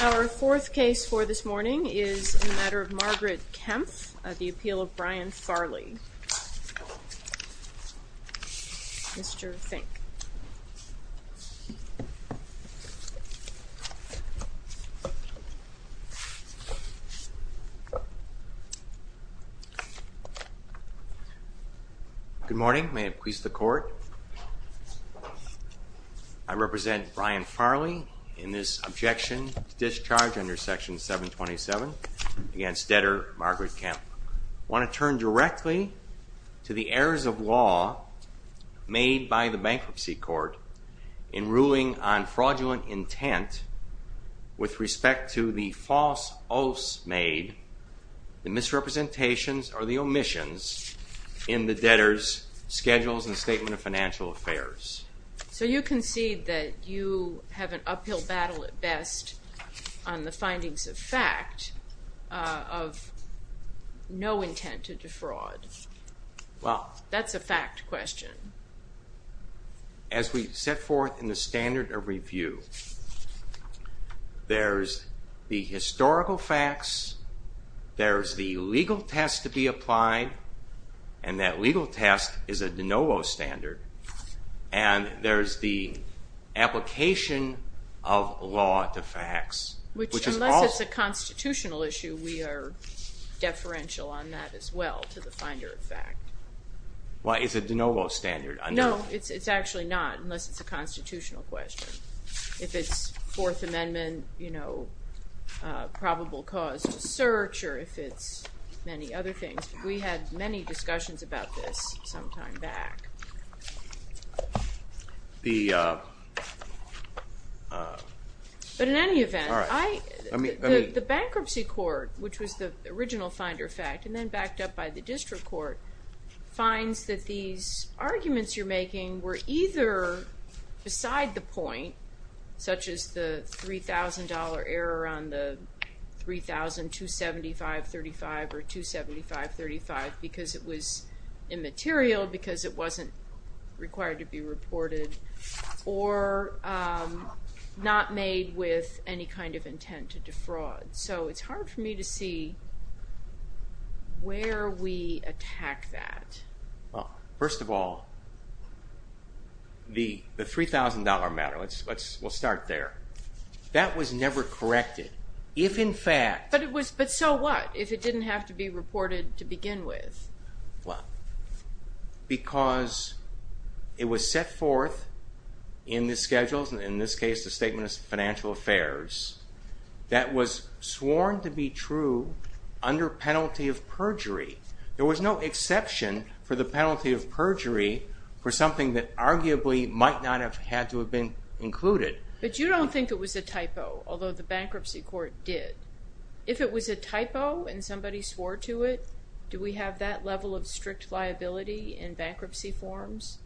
Our fourth case for this morning is a matter of Margaret Kempff of the appeal of Brian Farley. Mr. Fink. Good morning. May it please the court, I represent Brian Farley in this objection to discharge under section 727 against debtor Margaret Kempff. I want to turn directly to the errors of law made by the bankruptcy court in ruling on fraudulent intent with respect to the false oaths made, the misrepresentations or the omissions in the debtor's schedules and statement of financial affairs. So you concede that you have an uphill battle at best on the findings of fact of no intent to defraud. That's a fact question. As we set forth in the standard of review, there's the historical facts, there's the legal test to be applied, and that legal test is a de novo standard, and there's the application of law to facts, which is also. Unless it's a constitutional issue, we are deferential on that as well, to the finder of fact. Why, is it a de novo standard? No, it's actually not, unless it's a constitutional question. If it's Fourth Amendment, you know, probable cause to search, or if it's many other things. We had many discussions about this some time back. But in any event, the bankruptcy court, which was the original finder of fact, and then backed up by the district court, finds that these arguments you're making were either beside the point, such as the $3,000 error on the 3,275.35 or 275.35 because it was immaterial, because it wasn't required to be reported, or not made with any kind of intent to defraud. So it's hard for me to see where we attack that. First of all, the $3,000 matter, we'll start there, that was never corrected. If, in fact... But so what, if it didn't have to be reported to begin with? Because it was set forth in the schedules, in this case the Statement of Financial Affairs, that was sworn to be true under penalty of perjury. There was no exception for the penalty of perjury for something that arguably might not have had to have been included. But you don't think it was a typo, although the bankruptcy court did. If it was a typo and somebody swore to it, do we have that level of strict liability in bankruptcy forms?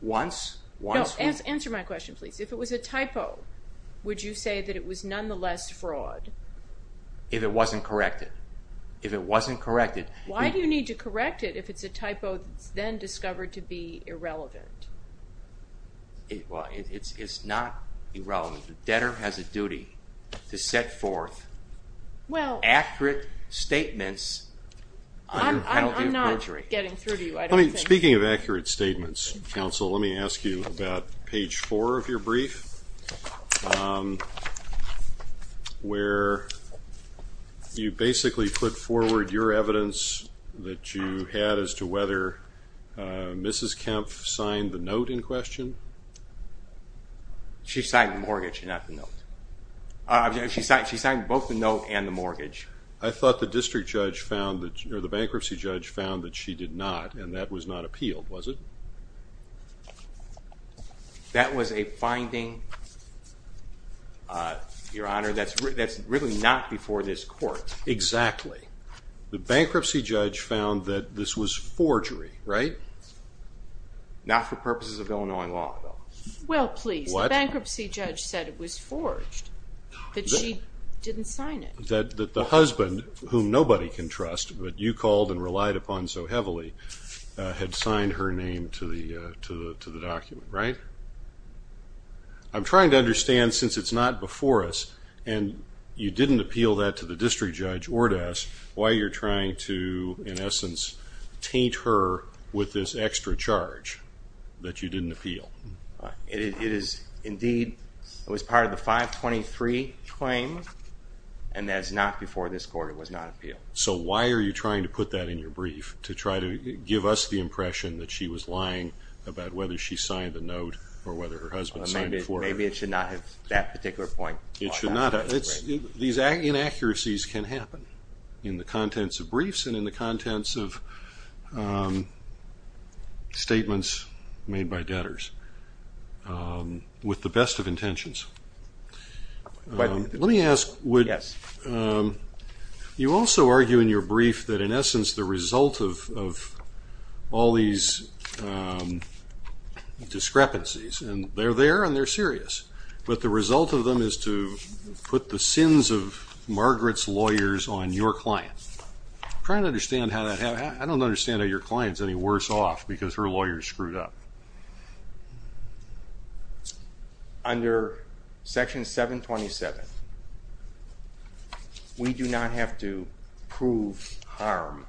Once, once... No, answer my question please. If it was a typo, would you say that it was nonetheless fraud? If it wasn't corrected. If it wasn't corrected... Why do you need to correct it if it's a typo that's then discovered to be irrelevant? Well, it's not irrelevant. The debtor has a duty to set forth accurate statements under penalty of perjury. I'm not getting through to you, I don't think... Speaking of accurate statements, counsel, let me ask you about page four of your brief, where you basically put forward your evidence that you had as to whether Mrs. Kempf signed the note in question? She signed the mortgage, not the note. She signed both the note and the mortgage. I thought the district judge found that, or the bankruptcy judge found that she did not, and that was not appealed, was it? That was a finding, Your Honor, that's really not before this court. Exactly. The bankruptcy judge found that this was forgery, right? Not for purposes of Illinois law, though. Well, please, the bankruptcy judge said it was forged, that she didn't sign it. That the husband, whom nobody can trust, but you called and relied upon so heavily, had signed her name to the document, right? I'm trying to understand, since it's not before us, and you didn't appeal that to the district judge or to us, why you're trying to, in essence, taint her with this extra charge, that you didn't appeal? It is, indeed, it was part of the 523 claim, and that is not before this court, it was not appealed. So why are you trying to put that in your brief, to try to give us the impression that she was lying about whether she signed the note or whether her husband signed it for her? Maybe it should not have that particular point. These inaccuracies can happen in the contents of briefs and in the contents of statements made by debtors, with the best of intentions. Let me ask, you also argue in your brief that, in essence, the result of all these discrepancies, and they're there and they're serious, but the result of them is to put the sins of Margaret's lawyers on your client. I'm trying to understand how that happens. I don't understand how your client is any worse off, because her lawyers screwed up. Under Section 727, we do not have to prove harm.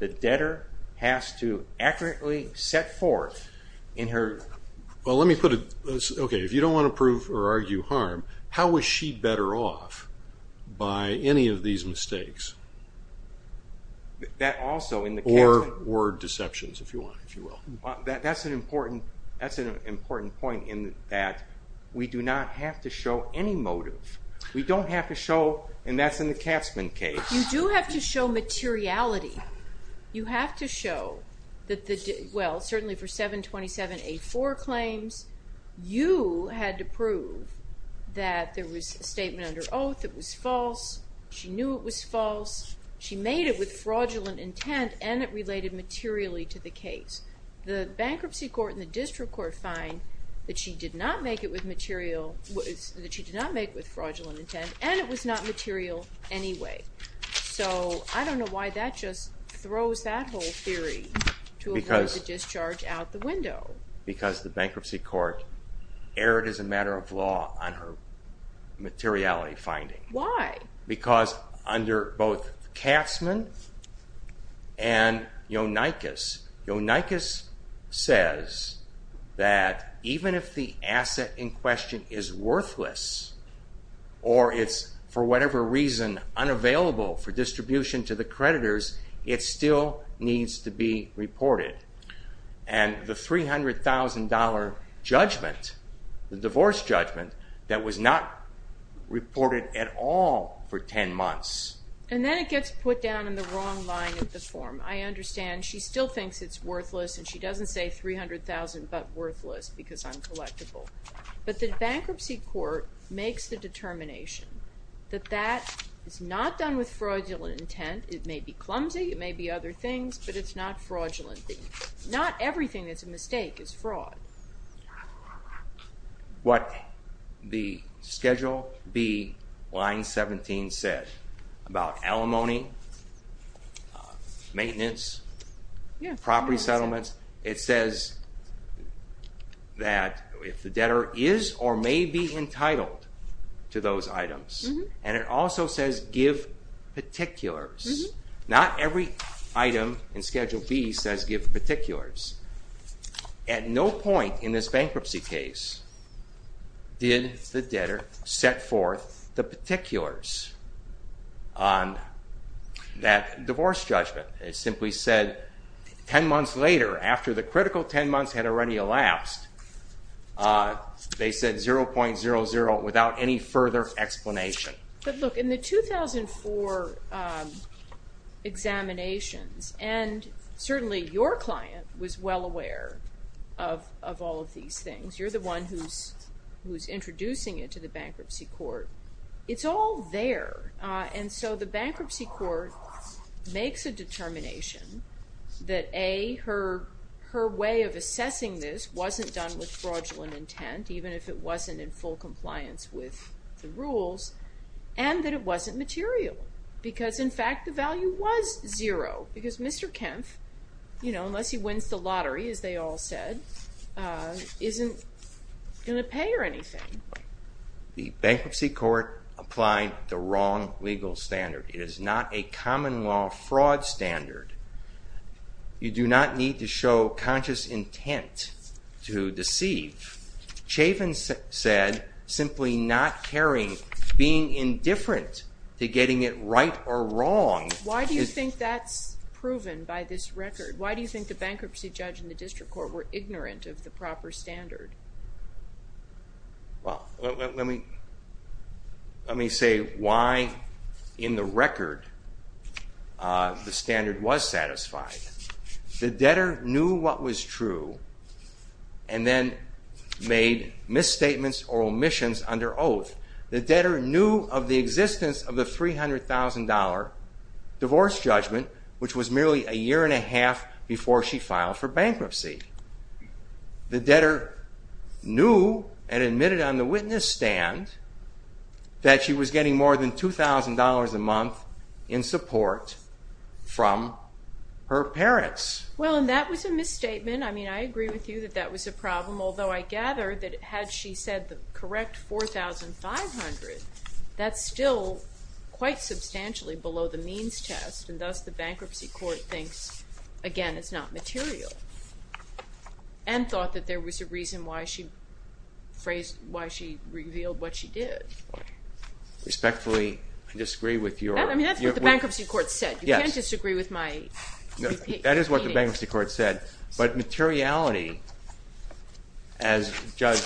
The debtor has to accurately set forth in her... Well, let me put it this way. If you don't want to prove or argue harm, how was she better off by any of these mistakes? That also... Or deceptions, if you will. That's an important point in that we do not have to show any motive. We don't have to show... And that's in the Katzmann case. You do have to show materiality. You have to show that the... Well, certainly for 727A4 claims, you had to prove that there was a statement under oath that was false, she knew it was false, she made it with fraudulent intent, and it related materially to the case. The bankruptcy court and the district court find that she did not make it with material... That she did not make it with fraudulent intent, and it was not material anyway. So I don't know why that just throws that whole theory to avoid the discharge out the window. Because the bankruptcy court erred as a matter of law on her materiality finding. Why? Because under both Katzmann and Yonakis, Yonakis says that even if the asset in question is worthless or it's, for whatever reason, unavailable for distribution to the creditors, it still needs to be reported. And the $300,000 judgment, the divorce judgment, that was not reported at all for 10 months... And then it gets put down in the wrong line of the form. I understand she still thinks it's worthless and she doesn't say $300,000 but worthless because I'm collectible. But the bankruptcy court makes the determination that that is not done with fraudulent intent. It may be clumsy, it may be other things, but it's not fraudulent. Not everything that's a mistake is fraud. What the Schedule B, Line 17 said about alimony, maintenance, property settlements, it says that if the debtor is or may be entitled to those items and it also says give particulars. Not every item in Schedule B says give particulars. At no point in this bankruptcy case did the debtor set forth the particulars on that divorce judgment. It simply said 10 months later, after the critical 10 months had already elapsed, they said $0.00 without any further explanation. But look, in the 2004 examinations, and certainly your client was well aware of all of these things. You're the one who's introducing it to the bankruptcy court. It's all there. And so the bankruptcy court makes a determination that A, her way of assessing this wasn't done with fraudulent intent even if it wasn't in full compliance with the rules and that it wasn't material because in fact the value was zero because Mr. Kempf, unless he wins the lottery, as they all said, isn't going to pay or anything. The bankruptcy court applied the wrong legal standard. It is not a common law fraud standard. You do not need to show conscious intent to deceive. Chavin said, simply not caring, being indifferent to getting it right or wrong. Why do you think that's proven by this record? Why do you think the bankruptcy judge and the district court were ignorant of the proper standard? Well, let me say why in the record the standard was satisfied. The debtor knew what was true and then made misstatements or omissions under oath. The debtor knew of the existence of the $300,000 divorce judgment which was merely a year and a half before she filed for bankruptcy. The debtor knew and admitted on the witness stand that she was getting more than $2,000 a month in support from her parents. Well, and that was a misstatement. I mean, I agree with you that that was a problem, although I gather that had she said the correct $4,500, that's still quite substantially below the means test, and thus the bankruptcy court thinks, again, it's not material and thought that there was a reason why she revealed what she did. Respectfully, I disagree with your... That's what the bankruptcy court said. You can't disagree with my... That is what the bankruptcy court said, but materiality as Judge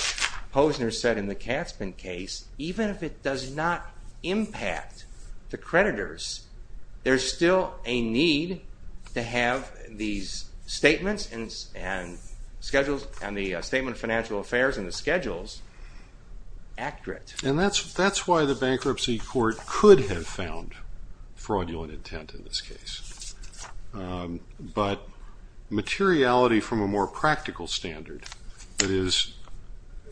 Posner said in the Katzmann case, even if it does not impact the creditors, there's still a need to have these statements and the Statement of Financial Affairs and the schedules accurate. And that's why the bankruptcy court could have found fraudulent intent in this case. But materiality from a more practical standard, that is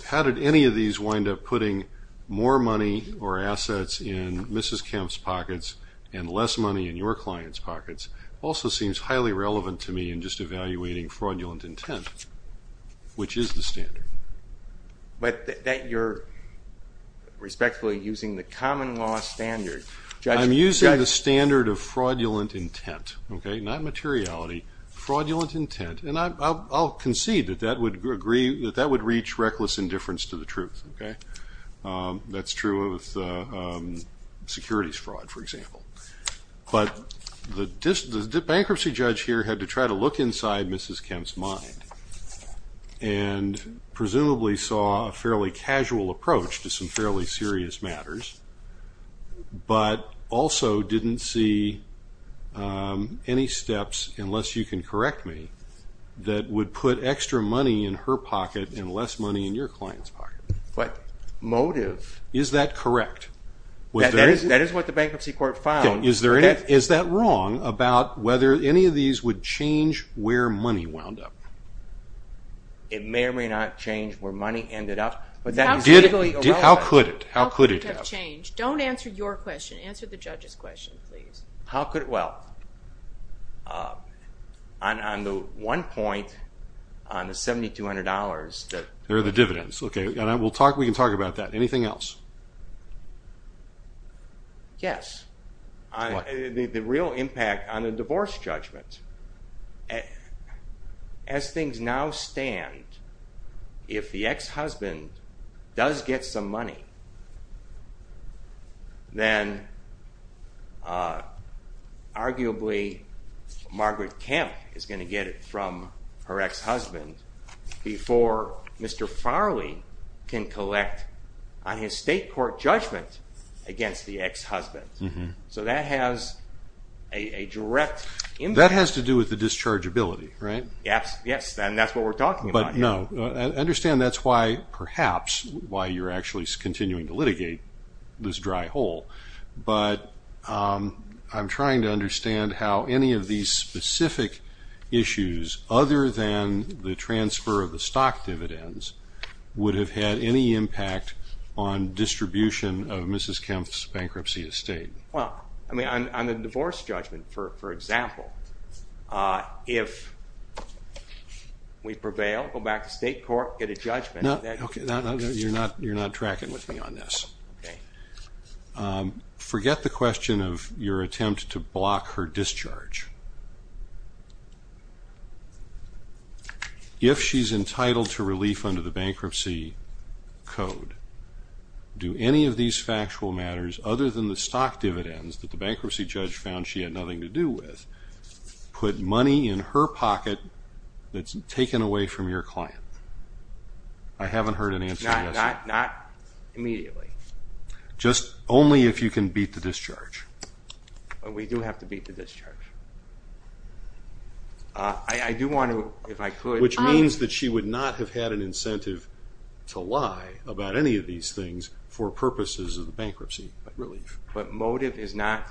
how did any of these wind up putting more money or assets in Mrs. Kemp's pockets and less money in your clients' pockets also seems highly relevant to me in just evaluating fraudulent intent, which is the standard. But that you're respectfully using the common law standard I'm using the standard of fraudulent intent, not materiality, fraudulent intent, and I'll concede that that would reach reckless indifference to the truth. That's true of securities fraud, for example. But the bankruptcy judge here had to try to look inside Mrs. Kemp's mind and presumably saw a fairly casual approach to some fairly serious matters, but also didn't see any steps unless you can correct me that would put extra money in her pocket and less money in your clients' pockets. What motive? Is that correct? That is what the bankruptcy court found. Is that wrong about whether any of these would change where money wound up? It may or may not change where money ended up. How could it? Don't answer your question. Answer the judge's question, please. Well, on the one point on the $7,200 There are the dividends. We can talk about that. Anything else? Yes. The real impact on the divorce judgment as things now stand if the ex-husband does get some money then arguably Margaret Kemp is going to get it from her ex-husband before Mr. Farley can collect on his state court judgment against the ex-husband. So that has a direct impact. That has to do with the dischargeability, right? Yes, and that's what we're talking about. Understand that's why, perhaps why you're actually continuing to litigate this dry hole but I'm trying to understand how any of these specific issues other than the transfer of the stock dividends would have had any impact on distribution of Mrs. Kemp's bankruptcy estate. On the divorce judgment, for example if we prevail, go back to state court get a judgment You're not tracking with me on this. Forget the question of your attempt to block her discharge. If she's entitled to relief under the bankruptcy code do any of these factual matters other than the stock dividends that the bankruptcy judge found she had nothing to do with put money in her pocket that's taken away from your client? I haven't heard an answer yet. Not immediately. Just only if you can beat the discharge. We do have to beat the discharge. I do want to Which means that she would not have had an incentive to lie about any of these things for purposes of bankruptcy relief. But motive is not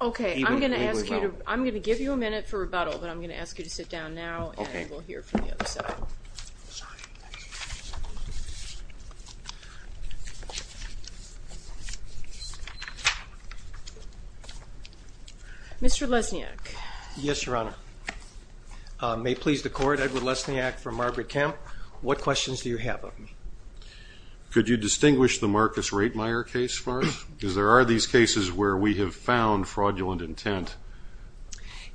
I'm going to give you a minute for rebuttal but I'm going to ask you to sit down now and we'll hear from the other side. Sorry. Mr. Lesniak. Yes, your honor. May it please the court, Edward Lesniak from Margaret Kemp. What questions do you have of me? Could you distinguish the Marcus Reitmeyer case for us? Because there are these cases where we have found fraudulent intent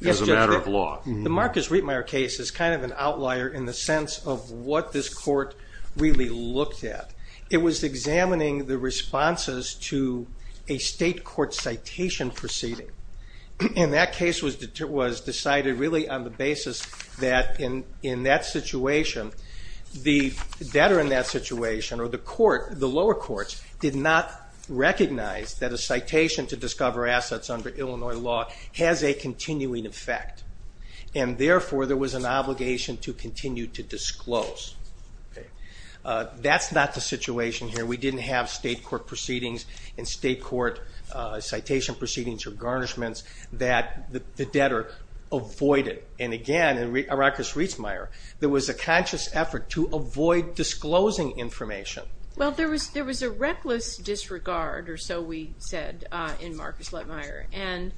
as a matter of law. The Marcus Reitmeyer case is kind of an outlier in the sense of what this court really looked at. It was examining the responses to a state court citation proceeding. And that case was decided really on the basis that in that situation the debtor in that situation or the court, the lower courts did not recognize that a citation to discover assets under Illinois law has a continuing effect. And therefore there was an obligation to continue to disclose. That's not the situation here. We didn't have state court proceedings and state court citation proceedings or garnishments that the debtor avoided. And again, in Marcus Reitmeyer there was a conscious effort to avoid disclosing information. Well, there was a reckless disregard or so we said in Marcus Reitmeyer. And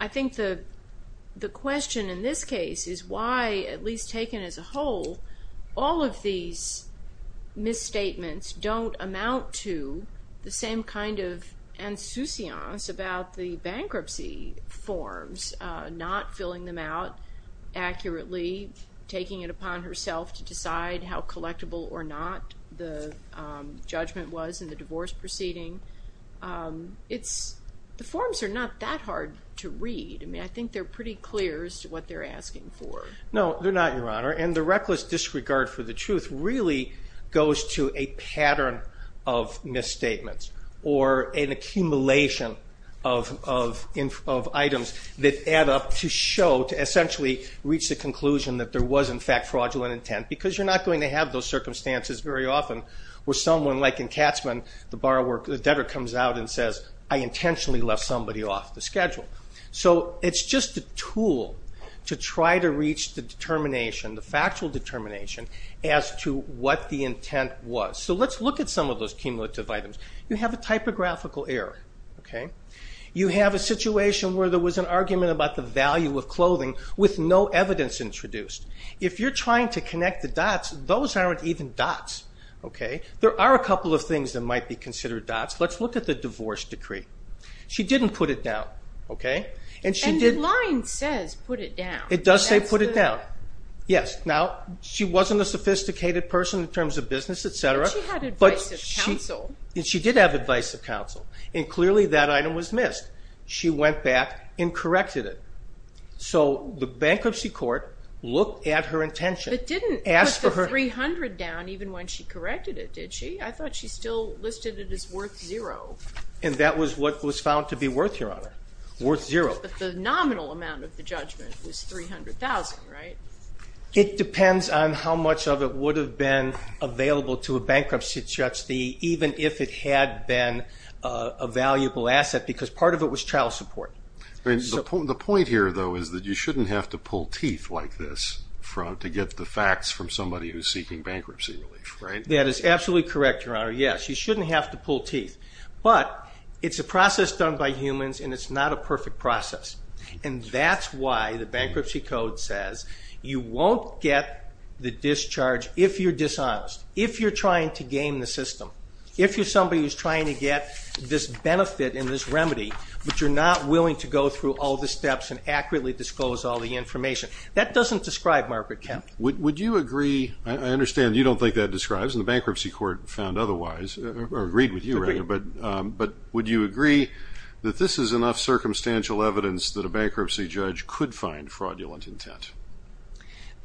I think the question in this case is why, at least taken as a whole, all of these misstatements don't amount to the same kind of insouciance about the bankruptcy forms, not filling them out accurately, taking it upon herself to decide how collectible or not the judgment was in the divorce proceeding. The forms are not that hard to read. I think they're pretty clear as to what they're asking for. No, they're not, Your Honor. And the reckless disregard for the truth really goes to a pattern of misstatements or an accumulation of items that add up to show, to essentially reach the conclusion that there was in fact fraudulent intent. Because you're not going to have those circumstances very often where someone like Ryan Katzman, the borrower, the debtor, comes out and says, I intentionally left somebody off the schedule. So it's just a tool to try to reach the determination, the factual determination, as to what the intent was. So let's look at some of those cumulative items. You have a typographical error. You have a situation where there was an argument about the value of clothing with no evidence introduced. If you're trying to connect the dots, those aren't even dots. There are a couple of things that might be considered dots. Let's look at the divorce decree. She didn't put it down. And the line says put it down. It does say put it down. Now, she wasn't a sophisticated person in terms of business, etc. She had advice of counsel. She did have advice of counsel. And clearly that item was missed. She went back and corrected it. So the bankruptcy court looked at her intention. But didn't put the $300,000 down even when she corrected it, did she? I thought she still listed it as worth zero. And that was what was found to be worth, Your Honor. Worth zero. But the nominal amount of the judgment was $300,000, right? It depends on how much of it would have been available to a bankruptcy judge, even if it had been a valuable asset, because part of it was child support. The point here though is that you shouldn't have to pull teeth like this to get the facts from somebody who's seeking bankruptcy relief. That is absolutely correct, Your Honor. Yes, you shouldn't have to pull teeth. But it's a process done by humans and it's not a perfect process. And that's why the bankruptcy code says you won't get the discharge if you're dishonest, if you're trying to game the system, if you're somebody who's trying to get this benefit and this remedy, but you're not willing to go through all the steps and accurately disclose all the information. That doesn't describe Margaret Kepp. Would you agree I understand you don't think that describes and the bankruptcy court found otherwise or agreed with you, but would you agree that this is enough circumstantial evidence that a bankruptcy judge could find fraudulent intent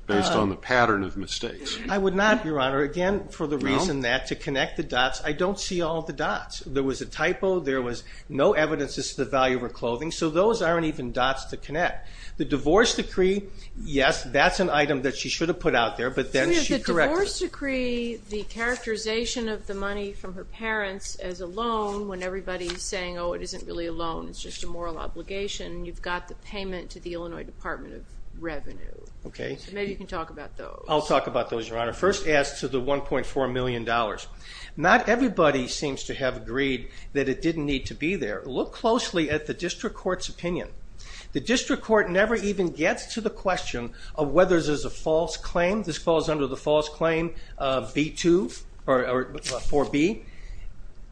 based on the pattern of mistakes? I would not, Your Honor, again for the reason that to connect the dots, I don't see all the dots. There was a typo, there was no evidence as to the value of her clothing, so those aren't even dots to connect. The divorce decree, yes, that's an item that she should have put out there, but then she corrected it. The divorce decree, the characterization of the money from her parents as a loan, when everybody's saying, oh, it isn't really a loan, it's just a moral obligation, you've got the payment to the Illinois Department of Revenue. Maybe you can talk about those. I'll talk about those, Your Honor. First as to the $1.4 million. Not everybody seems to have agreed that it didn't need to be there. Look closely at the district court's opinion. The district court never even gets to the question of whether there's a false claim. This falls under the false claim of B2 or 4B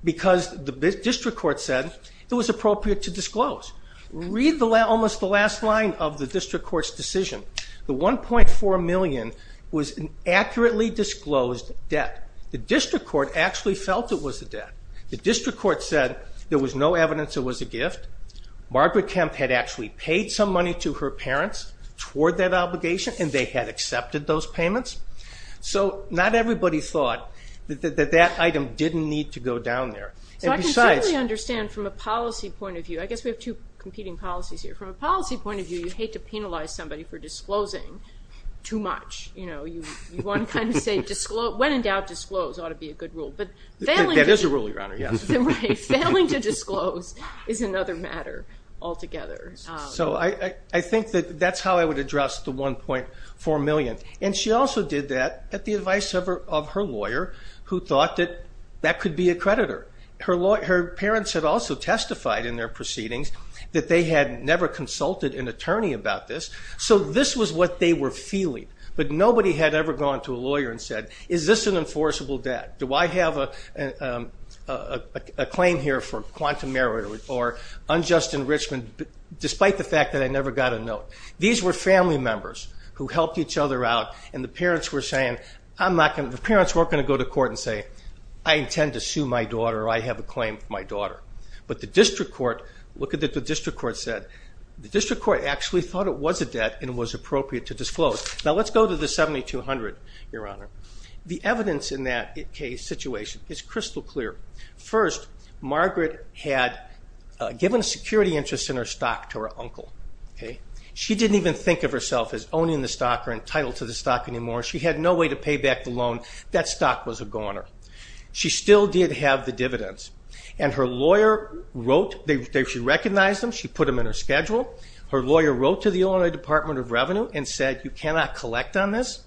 because the district court said it was appropriate to disclose. Read almost the last line of the district court's decision. The $1.4 million was an accurately disclosed debt. The district court actually felt it was a debt. The district court said there was no evidence it was a gift. Margaret Kemp had actually paid some money to her parents toward that obligation and they had accepted those payments. So not everybody thought that that item didn't need to go down there. So I can certainly understand from a policy point of view, I guess we have two competing policies here. From a policy point of view, you hate to penalize somebody for disclosing too much. You want to kind of say when in doubt, disclose ought to be a good rule. That is a rule, Your Honor. Failing to disclose is another matter altogether. So I think that that's how I would address the $1.4 million. And she also did that at the advice of her lawyer who thought that that could be a creditor. Her parents had also testified in their proceedings that they had never consulted an attorney about this. So this was what they were feeling. But nobody had ever gone to a lawyer and said, is this an enforceable debt? Do I have a claim here for quantum merit or unjust enrichment despite the fact that I never got a note? These were family members who helped each other out and the parents were saying, the parents weren't going to go to court and say, I intend to sue my daughter or I have a claim for my daughter. But the district court, look at what the district court said. The district court actually thought it was a debt and it was appropriate to disclose. Now let's go to the evidence in that case situation. It's crystal clear. First, Margaret had given a security interest in her stock to her uncle. She didn't even think of herself as owning the stock or entitled to the stock anymore. She had no way to pay back the loan. That stock was a goner. She still did have the dividends. And her lawyer wrote, she recognized them, she put them in her schedule. Her lawyer wrote to the Illinois Department of Revenue and said, you cannot collect on this.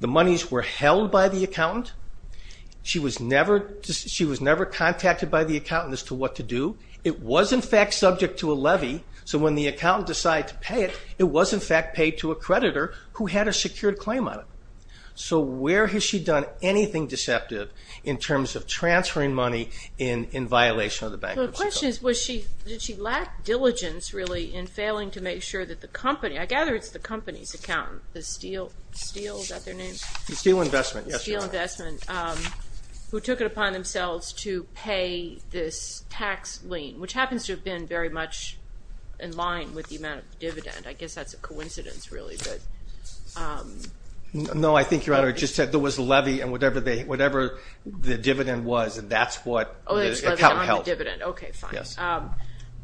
The monies were held by the accountant. She was never contacted by the accountant as to what to do. It was in fact subject to a levy so when the accountant decided to pay it, it was in fact paid to a creditor who had a secured claim on it. So where has she done anything deceptive in terms of transferring money in violation of the bankruptcy code? The question is, did she lack diligence really in failing to make sure that the company, I gather it's the Steel, is that their name? Steel Investment. Steel Investment. Who took it upon themselves to pay this tax lien, which happens to have been very much in line with the amount of the dividend. I guess that's a coincidence really. No, I think Your Honor it just said there was a levy and whatever the dividend was that's what the accountant held. Okay, fine.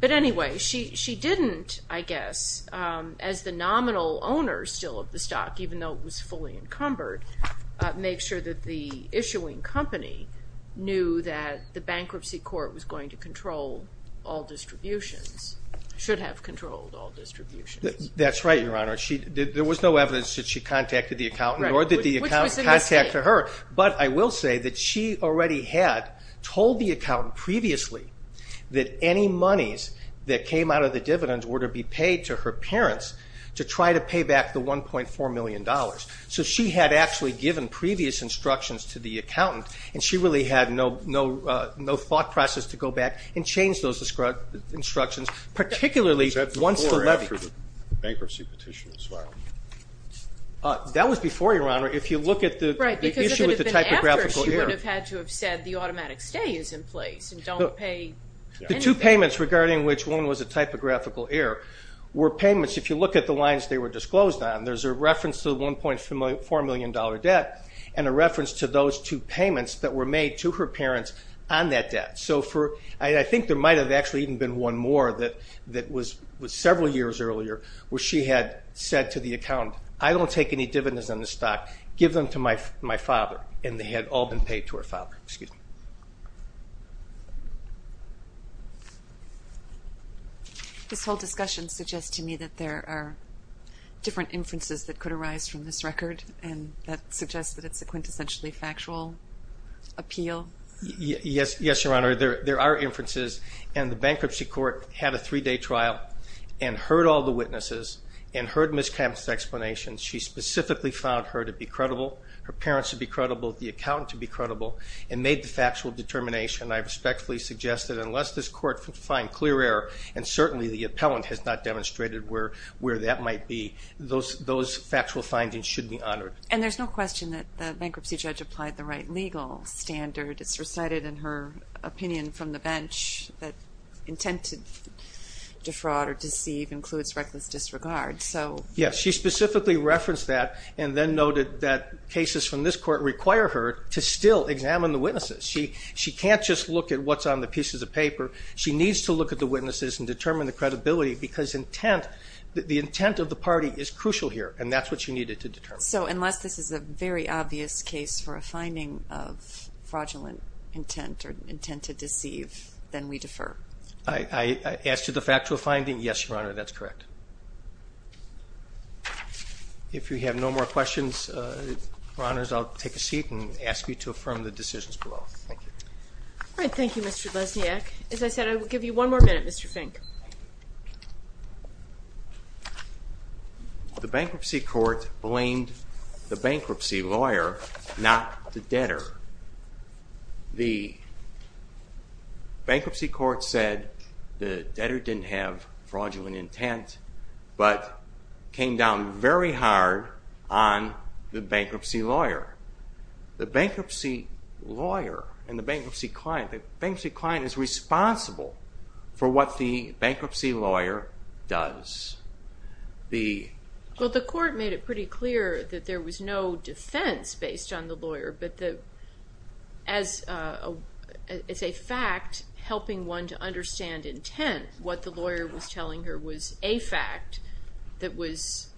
But anyway, she didn't, I guess as the nominal owner of the stock, even though it was fully encumbered make sure that the issuing company knew that the bankruptcy court was going to control all distributions. Should have controlled all distributions. That's right, Your Honor. There was no evidence that she contacted the accountant nor did the accountant contact her, but I will say that she already had told the accountant previously that any monies that came out of the dividends were to be paid to her by $1.4 million. So she had actually given previous instructions to the accountant and she really had no thought process to go back and change those instructions, particularly once the levy. That was before, Your Honor. Right, because if it had been after she would have had to have said the automatic stay is in place and don't pay anything. The two payments regarding which one was a typographical error were payments if you look at the lines they were disclosed on there's a reference to the $1.4 million debt and a reference to those two payments that were made to her parents on that debt. I think there might have actually even been one more that was several years earlier where she had said to the accountant, I don't take any dividends on this stock, give them to my father and they had all been paid to her father. Excuse me. This whole discussion suggests to me that there are different inferences that could arise from this record and that suggests that it's a quintessentially factual appeal. Yes, Your Honor. There are inferences and the bankruptcy court had a three day trial and heard all the witnesses and heard Ms. Kemp's explanation. She specifically found her to be credible, her parents to be credible, the accountant to be credible. She made the factual determination and I respectfully suggest that unless this court finds clear error, and certainly the appellant has not demonstrated where that might be, those factual findings should be honored. And there's no question that the bankruptcy judge applied the right legal standard. It's recited in her opinion from the bench that intent to defraud or deceive includes reckless disregard. Yes, she specifically referenced that and then noted that cases from this court require her to still examine the witnesses. She can't just look at what's on the pieces of paper. She needs to look at the witnesses and determine the credibility because intent the intent of the party is crucial here and that's what she needed to determine. So unless this is a very obvious case for a finding of fraudulent intent or intent to deceive then we defer. I asked you the factual finding. Yes, Your Honor. That's correct. If you have no more questions, Your Honors, I'll take a seat and ask you to affirm the decisions below. Thank you. Thank you, Mr. Lesniak. As I said, I will give you one more minute, Mr. Fink. The bankruptcy court blamed the bankruptcy lawyer not the debtor. The bankruptcy court said the debtor didn't have fraudulent intent but came down very hard on the bankruptcy lawyer. The bankruptcy lawyer and the bankruptcy client is responsible for what the bankruptcy lawyer does. The court made it pretty clear that there was no defense based on the lawyer but the as a fact helping one to understand intent, what the lawyer was telling her was a fact that was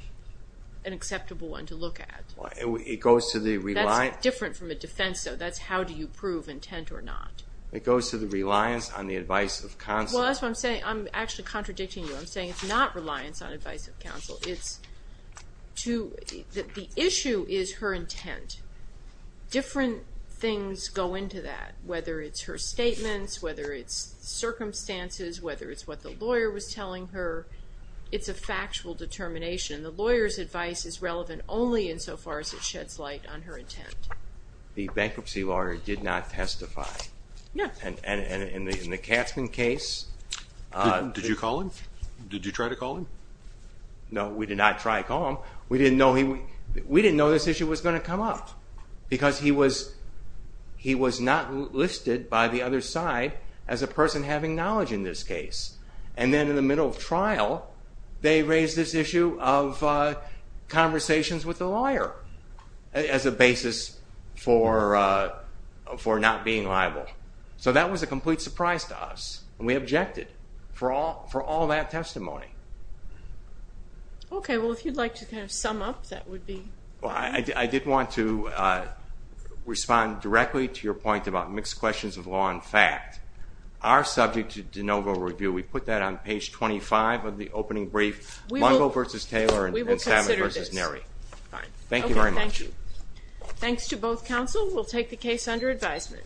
an acceptable one to look at. That's different from a defense, though. That's how do you prove intent or not. It goes to the reliance on the advice of counsel. I'm actually contradicting you. I'm saying it's not reliance on advice of counsel. The issue is her intent. Different things go into that, whether it's her statements, whether it's circumstances, whether it's what the lawyer was determining. The lawyer's advice is relevant only in so far as it sheds light on her intent. The bankruptcy lawyer did not testify. And in the Katzman case Did you call him? Did you try to call him? No, we did not try to call him. We didn't know this issue was going to come up because he was not listed by the other side as a person having knowledge in this case. And then in the We raised this issue of conversations with the lawyer as a basis for not being liable. So that was a complete surprise to us. And we objected for all that testimony. Okay, well if you'd like to kind of sum up, that would be Well, I did want to respond directly to your point about mixed questions of law and fact. Our subject to de novo review, we put that on page 25 of the opening brief. We will consider this. Thank you very much. Thanks to both counsel. We'll take the case under advisement.